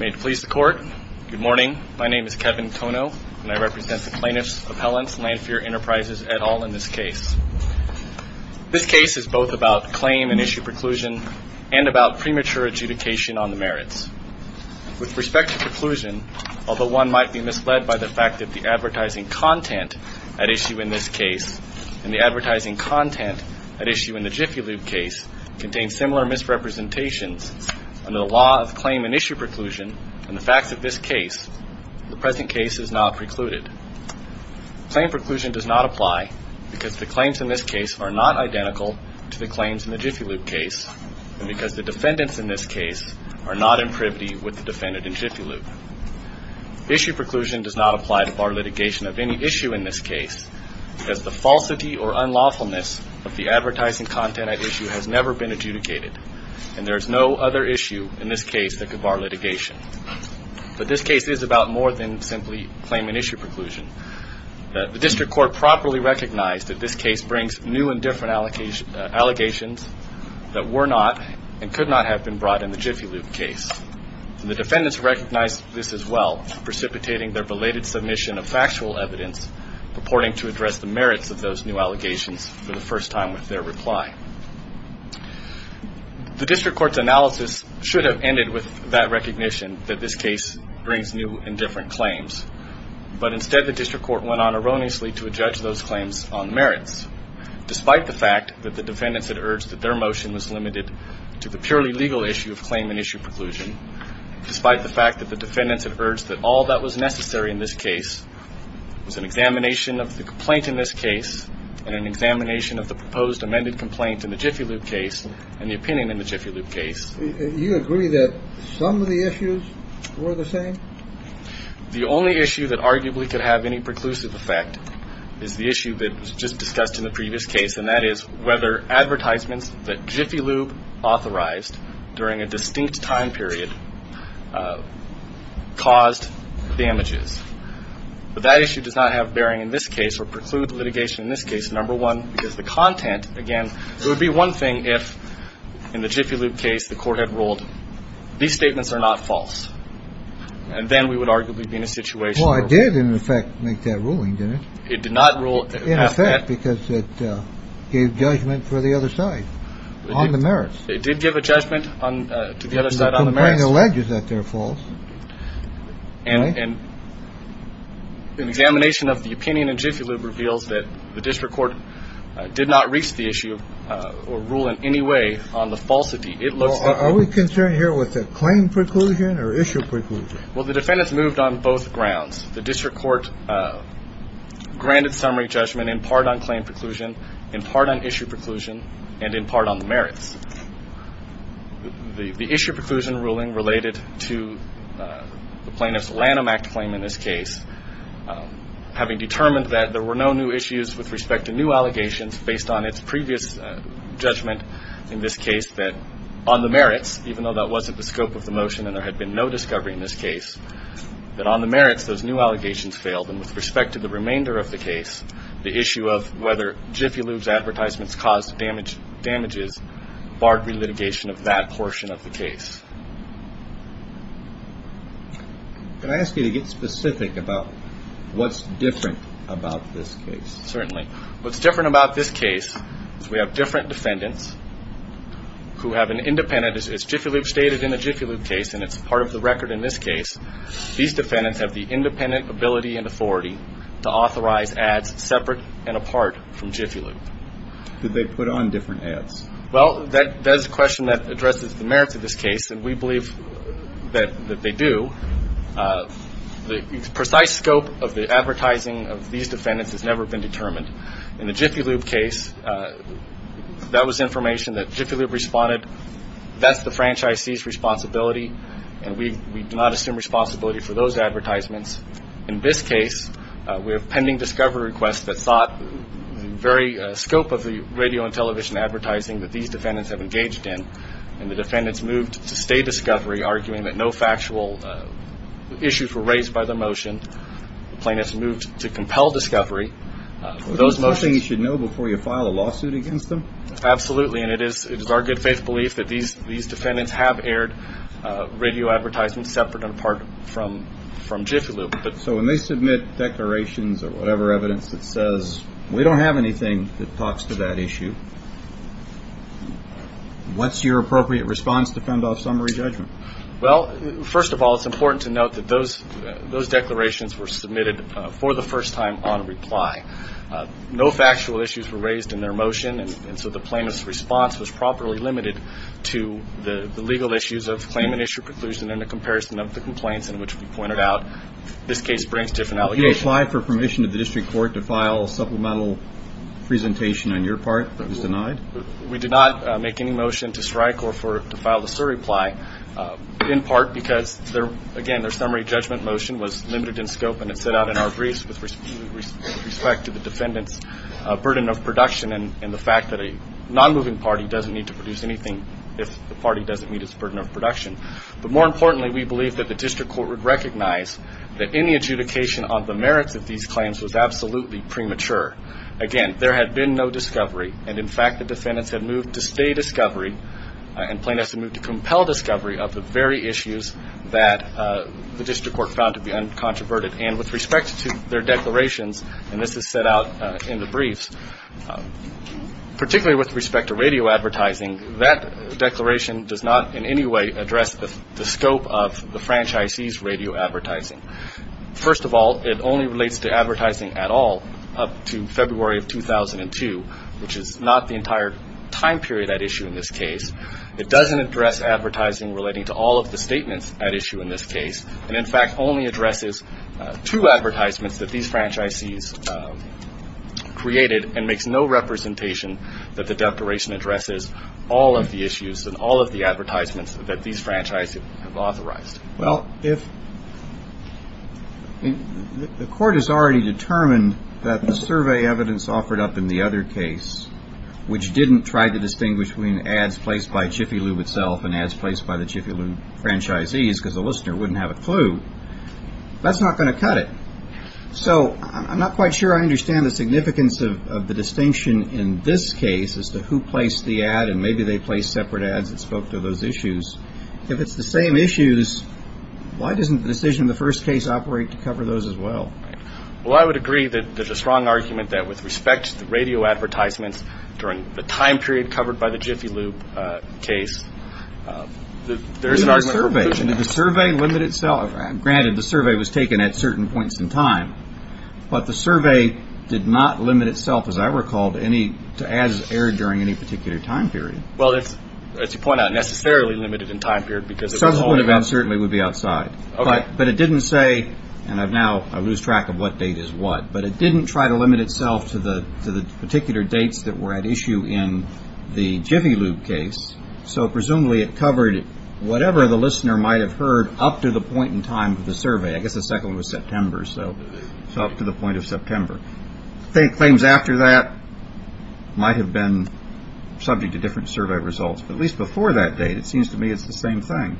May it please the Court, good morning, my name is Kevin Kono and I represent the plaintiffs appellants Landphere Enterprises et al in this case. This case is both about claim and issue preclusion and about premature adjudication on the merits. With respect to preclusion, although one might be misled by the fact that the advertising content at issue in this case and the advertising content at issue in the Jiffy Lube case contain similar misrepresentations under the law of claim and issue preclusion and the facts of this case, the present case is not precluded. Claim preclusion does not apply because the claims in this case are not identical to the claims in the Jiffy Lube case and because the defendants in this case are not in privity with the defendant in Jiffy Lube. Issue preclusion does not apply to bar litigation of any issue in this case because the falsity or unlawfulness of the advertising content at issue has never been adjudicated and there is no other issue in this case that could bar litigation. But this case is about more than simply claim and issue preclusion. The District Court properly recognized that this case brings new and different allegations that were not and could not have been brought in the Jiffy Lube case. The defendants recognized this as well, precipitating their belated submission of factual evidence purporting to address the merits of those new allegations for the first time with their reply. The District Court's analysis should have ended with that recognition that this case brings new and different claims, but instead the District Court went on erroneously to adjudge those claims on merits. Despite the fact that the defendants had urged that their motion was limited to the purely legal issue of claim and issue preclusion, despite the fact that the defendants had urged that all that was necessary in this case was an examination of the complaint in this case and an examination of the proposed amended complaint in the Jiffy Lube case and the opinion in the Jiffy Lube case. You agree that some of the issues were the same? The only issue that arguably could have any preclusive effect is the issue that was just discussed in the previous case, and that is whether advertisements that Jiffy Lube authorized during a distinct time period caused damages. But that issue does not have bearing in this case or preclude litigation in this case, number one, because the content, again, it would be one thing if in the Jiffy Lube case the court had ruled these statements are not false, and then we would arguably be in a situation where we would have a ruling. Well, it did, in effect, make that ruling, didn't it? It did not rule in effect. In effect, because it gave judgment for the other side on the merits. It did give a judgment to the other side on the merits. I'm not saying it alleges that they're false. An examination of the opinion in Jiffy Lube reveals that the district court did not reach the issue or rule in any way on the falsity. Are we concerned here with the claim preclusion or issue preclusion? Well, the defendants moved on both grounds. The district court granted summary judgment in part on claim preclusion, in part on issue preclusion, and in part on the merits. The issue preclusion ruling related to the plaintiff's Lanham Act claim in this case. Having determined that there were no new issues with respect to new allegations based on its previous judgment in this case, that on the merits, even though that wasn't the scope of the motion and there had been no discovery in this case, that on the merits those new allegations failed, and with respect to the remainder of the case, the issue of whether Jiffy Lube's advertisements caused damages barred relitigation of that portion of the case. Can I ask you to get specific about what's different about this case? Certainly. What's different about this case is we have different defendants who have an independent, as Jiffy Lube stated in the Jiffy Lube case and it's part of the record in this case, these defendants have the independent ability and authority to authorize ads separate and apart from Jiffy Lube. Did they put on different ads? Well, that is a question that addresses the merits of this case, and we believe that they do. The precise scope of the advertising of these defendants has never been determined. In the Jiffy Lube case, that was information that Jiffy Lube responded. That's the franchisee's responsibility, and we do not assume responsibility for those advertisements. In this case, we have pending discovery requests that sought the very scope of the radio and television advertising that these defendants have engaged in, and the defendants moved to stay discovery, arguing that no factual issues were raised by their motion. The plaintiffs moved to compel discovery. Is that something you should know before you file a lawsuit against them? Absolutely, and it is our good faith belief that these defendants have aired radio advertisements separate and apart from Jiffy Lube. So when they submit declarations or whatever evidence that says, we don't have anything that talks to that issue, what's your appropriate response to fend off summary judgment? Well, first of all, it's important to note that those declarations were submitted for the first time on reply. No factual issues were raised in their motion, and so the plaintiff's response was properly limited to the legal issues of claim and issue preclusion in the comparison of the complaints in which we pointed out this case brings different allegations. Did you apply for permission of the district court to file a supplemental presentation on your part that was denied? We did not make any motion to strike or to file a surreply, in part because, again, their summary judgment motion was limited in scope and it set out in our briefs with respect to the defendant's burden of production and the fact that a nonmoving party doesn't need to produce anything if the party doesn't meet its burden of production. But more importantly, we believe that the district court would recognize that any adjudication on the merits of these claims was absolutely premature. Again, there had been no discovery, and, in fact, the defendants had moved to stay discovery and plaintiffs had moved to compel discovery of the very issues that the district court found to be uncontroverted. And with respect to their declarations, and this is set out in the briefs, particularly with respect to radio advertising, that declaration does not in any way address the scope of the franchisee's radio advertising. First of all, it only relates to advertising at all up to February of 2002, which is not the entire time period at issue in this case. It doesn't address advertising relating to all of the statements at issue in this case, and, in fact, only addresses two advertisements that these franchisees created and makes no representation that the declaration addresses all of the issues and all of the advertisements that these franchisees have authorized. Well, if the court has already determined that the survey evidence offered up in the other case, which didn't try to distinguish between ads placed by Chiffy Lube itself and ads placed by the Chiffy Lube franchisees because the listener wouldn't have a clue, that's not going to cut it. So I'm not quite sure I understand the significance of the distinction in this case as to who placed the ad and maybe they placed separate ads that spoke to those issues. If it's the same issues, why doesn't the decision in the first case operate to cover those as well? Well, I would agree that there's a strong argument that with respect to the radio advertisements during the time period covered by the Chiffy Lube case, there's an argument for inclusion. The survey limited itself. Granted, the survey was taken at certain points in time, but the survey did not limit itself, as I recall, to ads aired during any particular time period. Well, as you point out, necessarily limited in time period because of the whole event. Subsequent events certainly would be outside. Okay. But it didn't say, and now I lose track of what date is what, but it didn't try to limit itself to the particular dates that were at issue in the Chiffy Lube case, so presumably it covered whatever the listener might have heard up to the point in time of the survey. I guess the second one was September, so up to the point of September. I think things after that might have been subject to different survey results. But at least before that date, it seems to me it's the same thing.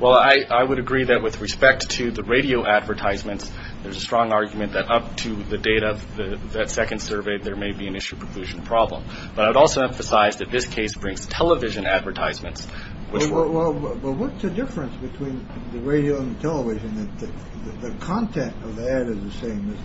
Well, I would agree that with respect to the radio advertisements, there's a strong argument that up to the date of that second survey, there may be an issue of inclusion problem. But I would also emphasize that this case brings television advertisements. Well, what's the difference between the radio and television? The content of the ad is the same.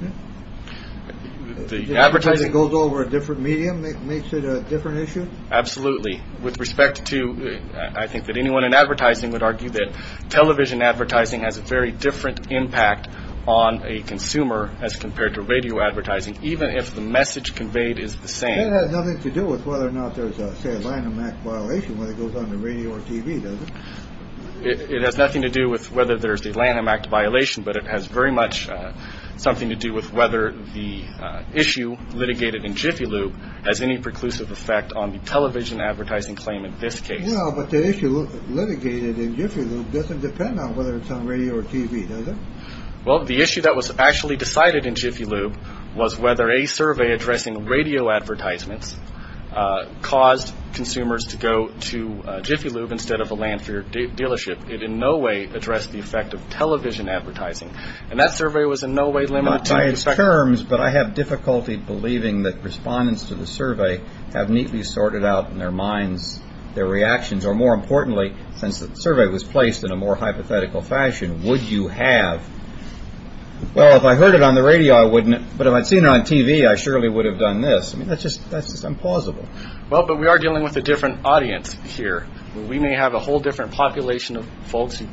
The advertising goes over a different medium makes it a different issue. Absolutely. With respect to I think that anyone in advertising would argue that television advertising has a very different impact on a consumer as compared to radio advertising, even if the message conveyed is the same. It has nothing to do with whether or not there's a landmark violation when it goes on the radio or TV. It has nothing to do with whether there's a landmark violation, but it has very much something to do with whether the issue litigated in Jiffy Lube has any preclusive effect on the television advertising claim in this case. But the issue litigated in Jiffy Lube doesn't depend on whether it's on radio or TV. Well, the issue that was actually decided in Jiffy Lube was whether a survey addressing radio advertisements caused consumers to go to Jiffy Lube instead of a Landfear dealership. It in no way addressed the effect of television advertising. And that survey was in no way limited. By its terms, but I have difficulty believing that respondents to the survey have neatly sorted out in their minds their reactions. Or more importantly, since the survey was placed in a more hypothetical fashion, would you have? Well, if I heard it on the radio, I wouldn't. But if I'd seen it on TV, I surely would have done this. I mean, that's just that's just implausible. Well, but we are dealing with a different audience here. We may have a whole different population of folks who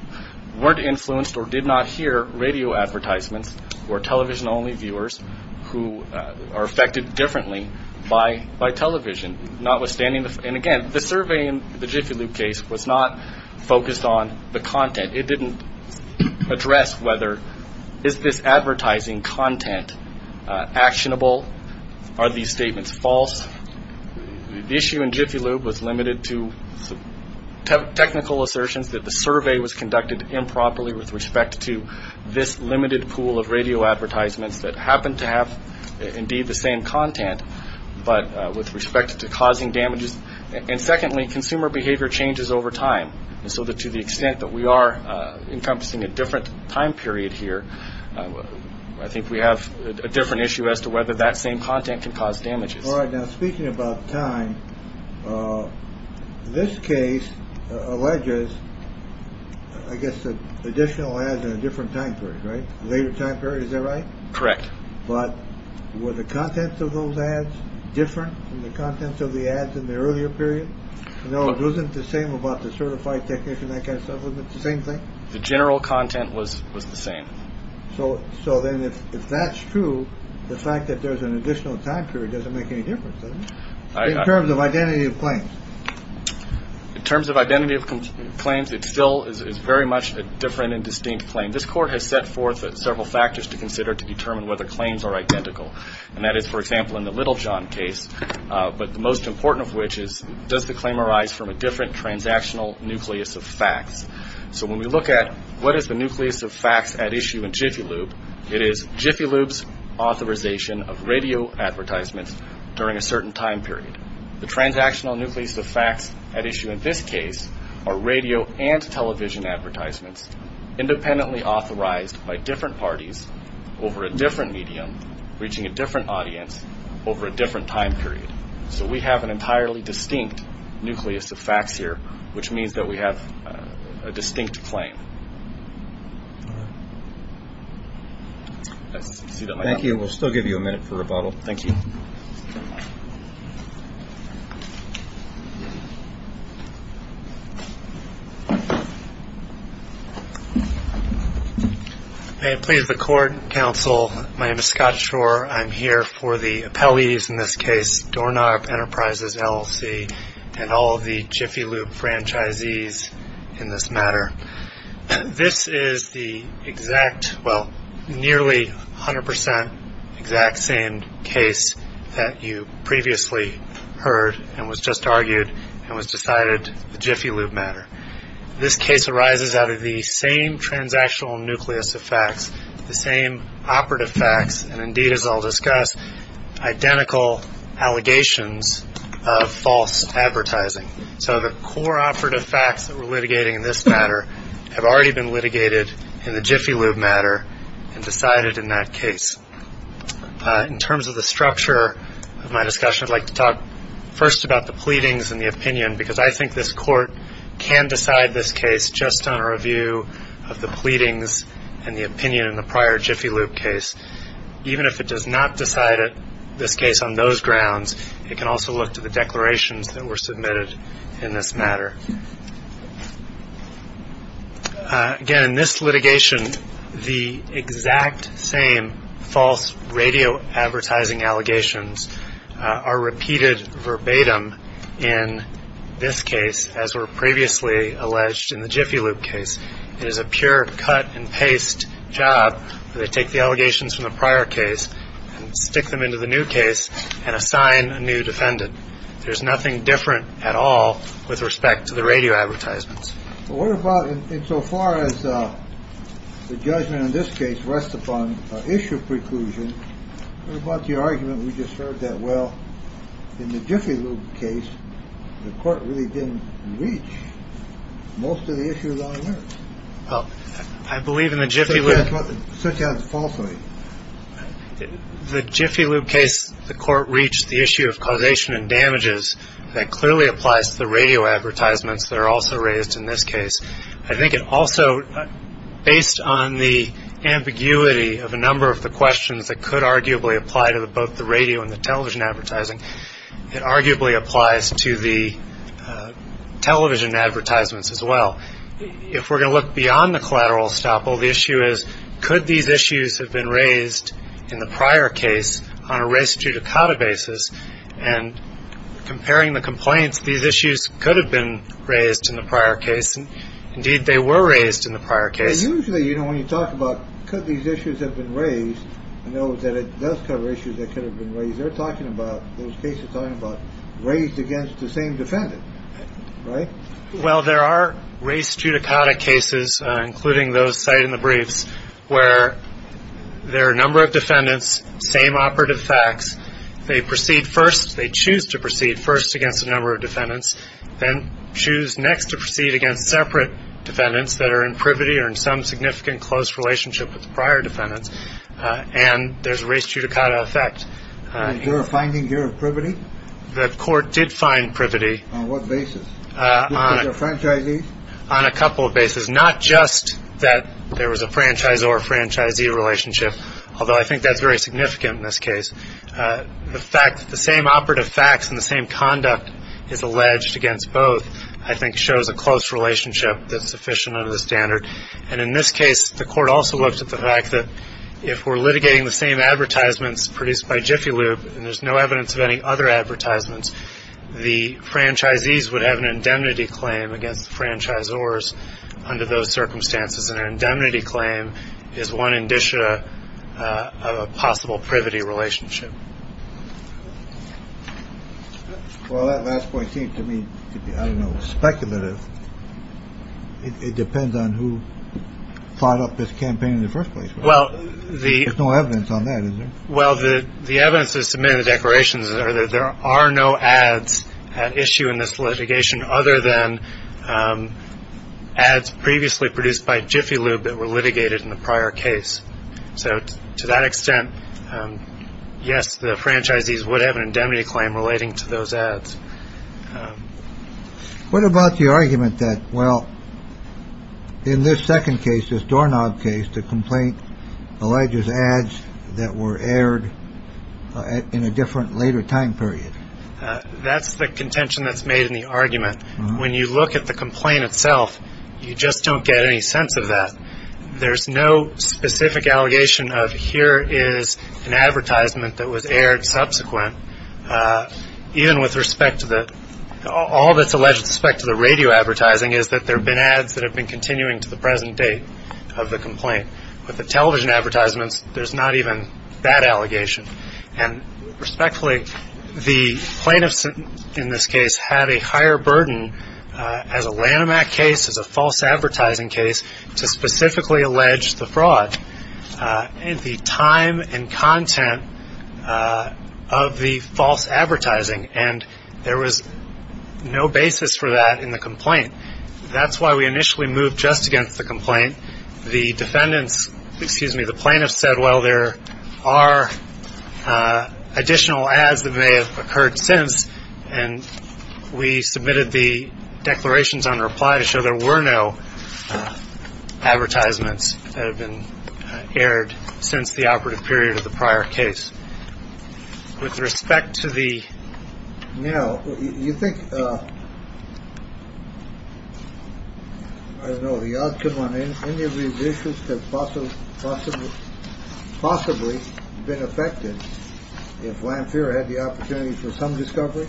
weren't influenced or did not hear radio advertisements or television only viewers who are affected differently by by television, notwithstanding. And again, the survey in the Jiffy Lube case was not focused on the content. It didn't address whether is this advertising content actionable? Are these statements false? The issue in Jiffy Lube was limited to technical assertions that the survey was conducted improperly with respect to this limited pool of radio advertisements that happened to have indeed the same content. But with respect to causing damages and secondly, consumer behavior changes over time. And so that to the extent that we are encompassing a different time period here, I think we have a different issue as to whether that same content can cause damages. All right. Now, speaking about time, this case alleges, I guess, additional ads in a different time period, right? Later time period. Is that right? Correct. But were the contents of those ads different from the contents of the ads in the earlier period? No, it wasn't the same about the certified technician. I guess the same thing. The general content was was the same. So. So then if that's true, the fact that there's an additional time period doesn't make any difference in terms of identity of claim. In terms of identity of claims, it still is very much a different and distinct claim. And this court has set forth several factors to consider to determine whether claims are identical. And that is, for example, in the Littlejohn case. But the most important of which is, does the claim arise from a different transactional nucleus of facts? So when we look at what is the nucleus of facts at issue in Jiffy Lube, it is Jiffy Lube's authorization of radio advertisements during a certain time period. The transactional nucleus of facts at issue in this case are radio and television advertisements, independently authorized by different parties over a different medium, reaching a different audience over a different time period. So we have an entirely distinct nucleus of facts here, which means that we have a distinct claim. Thank you. We'll still give you a minute for rebuttal. Thank you. May it please the court and counsel. My name is Scott Shore. I'm here for the appellees in this case, Doorknob Enterprises LLC, and all of the Jiffy Lube franchisees in this matter. This is the exact, well, nearly 100 percent exact same case that you previously heard and was just argued and was decided, the Jiffy Lube matter. This case arises out of the same transactional nucleus of facts, the same operative facts, and indeed, as I'll discuss, identical allegations of false advertising. So the core operative facts that we're litigating in this matter have already been litigated in the Jiffy Lube matter and decided in that case. In terms of the structure of my discussion, I'd like to talk first about the pleadings and the opinion, because I think this court can decide this case just on a review of the pleadings and the opinion in the prior Jiffy Lube case. Even if it does not decide this case on those grounds, it can also look to the declarations that were submitted in this matter. Again, in this litigation, the exact same false radio advertising allegations are repeated verbatim in this case, as were previously alleged in the Jiffy Lube case. It is a pure cut-and-paste job. They take the allegations from the prior case and stick them into the new case and assign a new defendant. There's nothing different at all with respect to the radio advertisements. What about in so far as the judgment in this case rests upon issue preclusion? What about the argument we just heard that, well, in the Jiffy Lube case, the court really didn't reach most of the issues on the merits? Well, I believe in the Jiffy Lube. Such as falsehood. The Jiffy Lube case, the court reached the issue of causation and damages. That clearly applies to the radio advertisements that are also raised in this case. I think it also, based on the ambiguity of a number of the questions that could arguably apply to both the radio and the television advertising, it arguably applies to the television advertisements as well. If we're going to look beyond the collateral estoppel, the issue is could these issues have been raised in the prior case on a res judicata basis? And comparing the complaints, these issues could have been raised in the prior case. Indeed, they were raised in the prior case. Usually, you know, when you talk about could these issues have been raised, I know that it does cover issues that could have been raised. They're talking about, those cases are talking about raised against the same defendant, right? Well, there are raised judicata cases, including those cited in the briefs, where there are a number of defendants, same operative facts. They proceed first. They choose to proceed first against a number of defendants, then choose next to proceed against separate defendants that are in privity or in some significant close relationship with the prior defendants. And there's raised judicata effect. You're finding your privity? The court did find privity. On what basis? On a couple of basis. Not just that there was a franchise or a franchisee relationship, although I think that's very significant in this case. The fact that the same operative facts and the same conduct is alleged against both, I think, shows a close relationship that's sufficient under the standard. And in this case, the court also looked at the fact that if we're litigating the same advertisements produced by Jiffy Lube, and there's no evidence of any other advertisements, the franchisees would have an indemnity claim against the franchisors under those circumstances. An indemnity claim is one indicia of a possible privity relationship. Well, that last point seems to me, I don't know, speculative. It depends on who thought up this campaign in the first place. Well, there's no evidence on that. Well, the evidence that's submitted declarations are that there are no ads at issue in this litigation other than ads previously produced by Jiffy Lube that were litigated in the prior case. So to that extent, yes, the franchisees would have an indemnity claim relating to those ads. What about the argument that, well, in this second case, this doorknob case, the complaint alleges ads that were aired in a different later time period? That's the contention that's made in the argument. When you look at the complaint itself, you just don't get any sense of that. There's no specific allegation of here is an advertisement that was aired subsequent, even with respect to the all that's alleged with respect to the radio advertising is that there have been ads that have been continuing to the present date of the complaint. With the television advertisements, there's not even that allegation. And respectfully, the plaintiffs in this case had a higher burden as a Lanham Act case, as a false advertising case, to specifically allege the fraud and the time and content of the false advertising. And there was no basis for that in the complaint. That's why we initially moved just against the complaint. The defendants, excuse me, the plaintiffs said, well, there are additional ads that may have occurred since. And we submitted the declarations on reply to show there were no advertisements that have been aired since the operative period of the prior case. With respect to the. You know, you think. I don't know the outcome on any of these issues that possibly, possibly, possibly been affected. If Lanham had the opportunity for some discovery.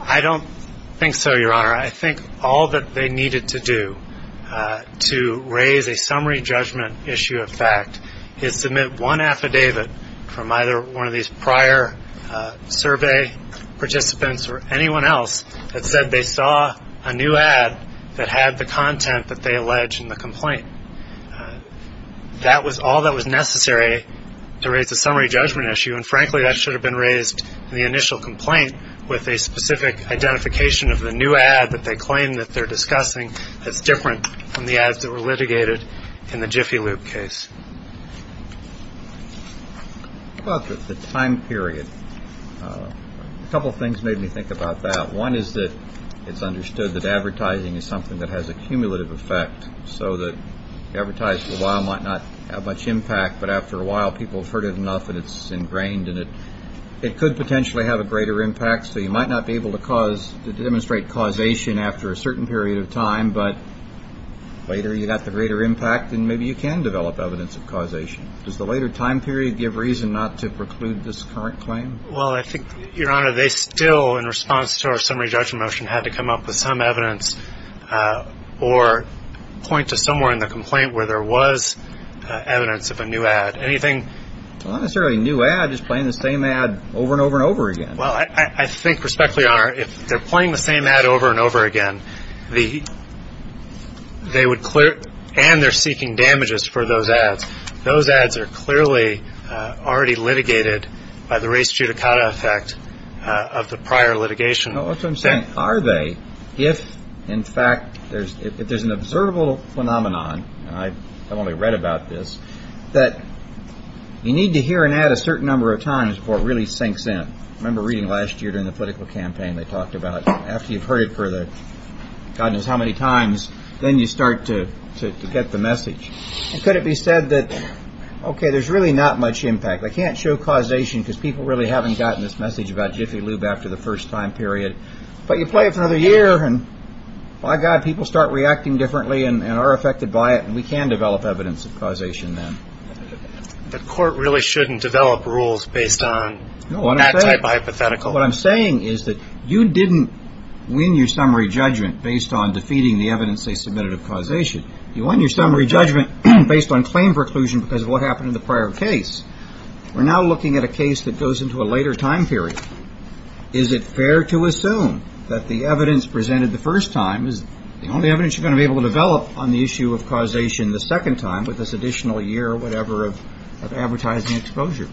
I don't think so, Your Honor. I think all that they needed to do to raise a summary judgment issue of fact is submit one affidavit from either one of these prior survey participants or anyone else that said they saw a new ad that had the content that they alleged in the complaint. That was all that was necessary to raise a summary judgment issue. And frankly, that should have been raised in the initial complaint with a specific identification of the new ad that they claim that they're discussing. That's different from the ads that were litigated in the Jiffy Lube case. The time period. A couple of things made me think about that. One is that it's understood that advertising is something that has a cumulative effect. So the advertisement might not have much impact. But after a while, people have heard it enough that it's ingrained in it. It could potentially have a greater impact. So you might not be able to cause to demonstrate causation after a certain period of time. But later, you got the greater impact. And maybe you can develop evidence of causation. Does the later time period give reason not to preclude this current claim? Well, I think, Your Honor, they still, in response to our summary judgment motion, had to come up with some evidence or point to somewhere in the complaint where there was evidence of a new ad. Anything? Not necessarily a new ad. Just playing the same ad over and over and over again. Well, I think, respectfully, Your Honor, if they're playing the same ad over and over again, they would clear it. And they're seeking damages for those ads. Those ads are clearly already litigated by the res judicata effect of the prior litigation. So I'm saying, are they? If, in fact, there's an observable phenomenon, and I've only read about this, that you need to hear an ad a certain number of times before it really sinks in. I remember reading last year during the political campaign, they talked about after you've heard it for the God knows how many times, then you start to get the message. And could it be said that, okay, there's really not much impact. They can't show causation because people really haven't gotten this message about Jiffy Lube after the first time period. But you play it for another year, and, by God, people start reacting differently and are affected by it, and we can develop evidence of causation then. The court really shouldn't develop rules based on that type of hypothetical. What I'm saying is that you didn't win your summary judgment based on defeating the evidence they submitted of causation. You won your summary judgment based on claim preclusion because of what happened in the prior case. We're now looking at a case that goes into a later time period. Is it fair to assume that the evidence presented the first time is the only evidence you're going to be able to develop on the issue of causation the second time, with this additional year or whatever of advertising exposure?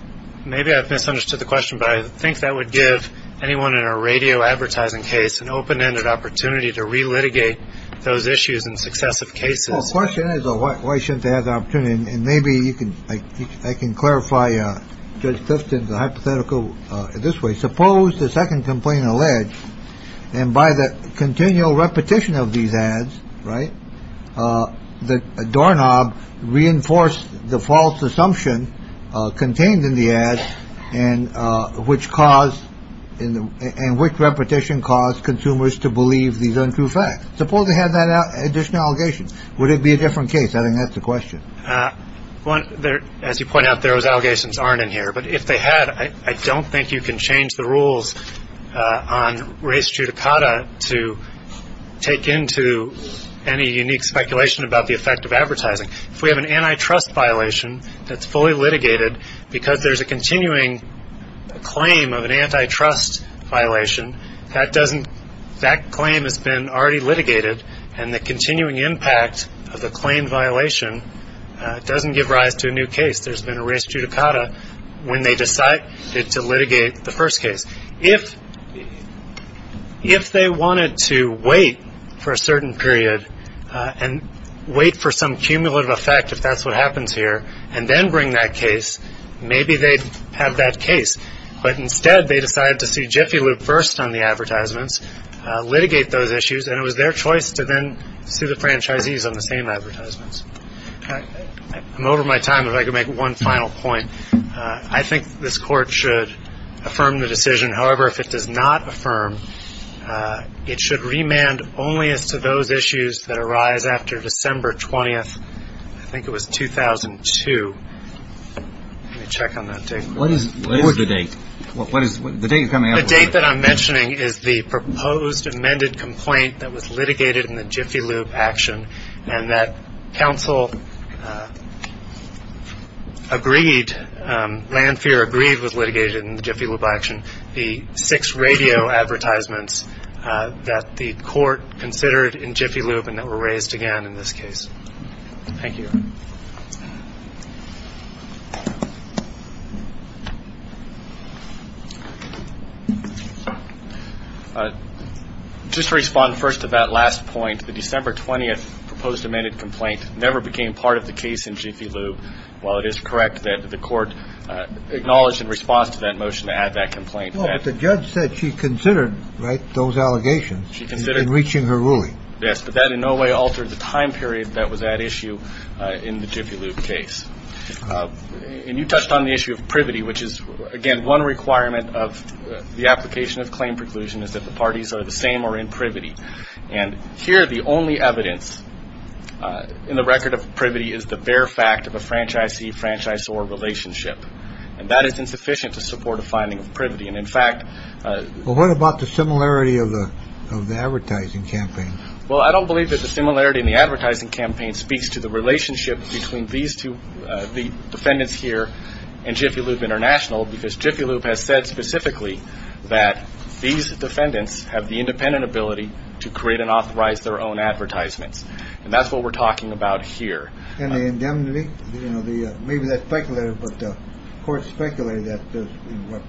Maybe I've misunderstood the question, but I think that would give anyone in a radio advertising case an open ended opportunity to relitigate those issues in successive cases. Question is, why shouldn't they have the opportunity? And maybe you can. I can clarify. Judge Clifton, the hypothetical this way. Suppose the second complaint alleged and by the continual repetition of these ads. Right. The doorknob reinforced the false assumption contained in the ad and which cause in and which repetition caused consumers to believe these untrue facts. Suppose they had that additional allegations. Would it be a different case? I think that's the question. Well, as you point out, there was allegations aren't in here. But if they had, I don't think you can change the rules on race judicata to take into any unique speculation about the effect of advertising. If we have an antitrust violation that's fully litigated because there's a continuing claim of an antitrust violation that doesn't. That claim has been already litigated. And the continuing impact of the claim violation doesn't give rise to a new case. There's been a race judicata when they decide to litigate the first case. If if they wanted to wait for a certain period and wait for some cumulative effect, if that's what happens here and then bring that case, maybe they have that case. But instead, they decided to see Jiffy Lube first on the advertisements, litigate those issues. And it was their choice to then sue the franchisees on the same advertisements. I'm over my time if I could make one final point. I think this court should affirm the decision. However, if it does not affirm, it should remand only as to those issues that arise after December 20th. I think it was 2002. Let me check on that. What is the date? What is the date? The date that I'm mentioning is the proposed amended complaint that was litigated in the Jiffy Lube action and that counsel agreed. Lanphier agreed was litigated in the Jiffy Lube action. The six radio advertisements that the court considered in Jiffy Lube and that were raised again in this case. Thank you. Just respond first to that last point. The December 20th proposed amended complaint never became part of the case in Jiffy Lube. Well, it is correct that the court acknowledged in response to that motion to add that complaint. The judge said she considered those allegations. Yes, but that in no way altered the time period that was at issue in the Jiffy Lube case. And you touched on the issue of privity, which is, again, one requirement of the application of claim preclusion is that the parties are the same or in privity. And here the only evidence in the record of privity is the bare fact of a franchisee franchise or relationship. And that is insufficient to support a finding of privity. And in fact, what about the similarity of the advertising campaign? Well, I don't believe that the similarity in the advertising campaign speaks to the relationship between these two. The defendants here and Jiffy Lube International, because Jiffy Lube has said specifically that these defendants have the independent ability to create and authorize their own advertisements. And that's what we're talking about here. And the indemnity, you know, the maybe that speculated, but the court speculated that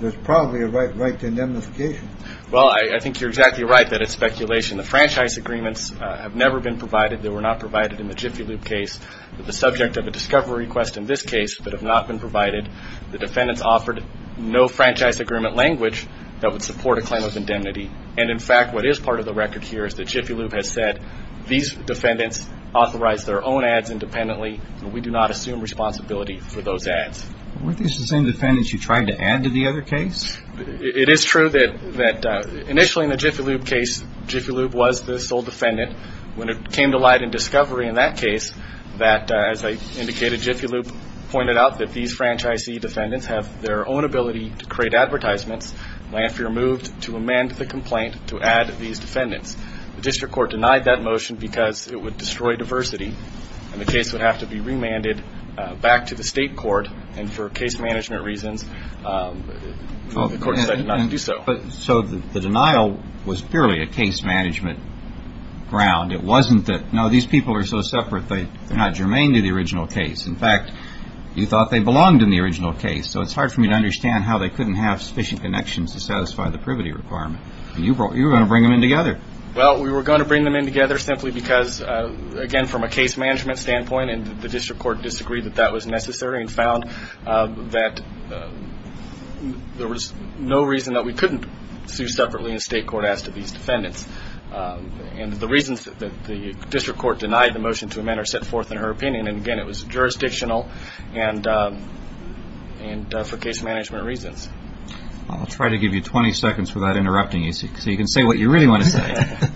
there's probably a right to indemnification. Well, I think you're exactly right that it's speculation. The franchise agreements have never been provided. They were not provided in the Jiffy Lube case. The subject of a discovery request in this case that have not been provided. The defendants offered no franchise agreement language that would support a claim of indemnity. And in fact, what is part of the record here is that Jiffy Lube has said these defendants authorize their own ads independently. We do not assume responsibility for those ads. Weren't these the same defendants you tried to add to the other case? It is true that initially in the Jiffy Lube case, Jiffy Lube was the sole defendant. When it came to light in discovery in that case that, as I indicated, Jiffy Lube pointed out that these franchisee defendants have their own ability to create advertisements. Lanphier moved to amend the complaint to add these defendants. The district court denied that motion because it would destroy diversity. And the case would have to be remanded back to the state court. And for case management reasons, the court decided not to do so. So the denial was purely a case management ground. It wasn't that, no, these people are so separate, they're not germane to the original case. In fact, you thought they belonged in the original case. So it's hard for me to understand how they couldn't have sufficient connections to satisfy the privity requirement. And you were going to bring them in together. Well, we were going to bring them in together simply because, again, from a case management standpoint, the district court disagreed that that was necessary and found that there was no reason that we couldn't sue separately in state court as to these defendants. And the reasons that the district court denied the motion to amend are set forth in her opinion. And, again, it was jurisdictional and for case management reasons. I'll try to give you 20 seconds without interrupting you so you can say what you really want to say.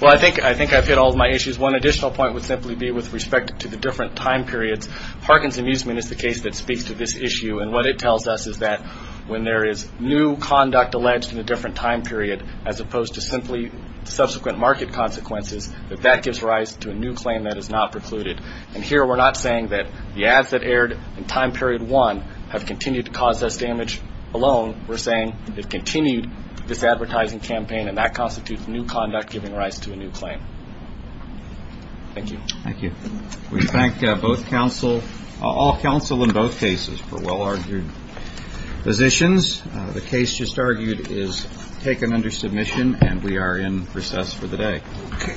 Well, I think I've hit all of my issues. One additional point would simply be with respect to the different time periods. Parkins amusement is the case that speaks to this issue. And what it tells us is that when there is new conduct alleged in a different time period, as opposed to simply subsequent market consequences, that that gives rise to a new claim that is not precluded. And here we're not saying that the ads that aired in time period one have continued to cause us damage alone. We're saying they've continued this advertising campaign, and that constitutes new conduct giving rise to a new claim. Thank you. Thank you. We thank both counsel, all counsel in both cases for well-argued positions. The case just argued is taken under submission, and we are in recess for the day. OK. All rise.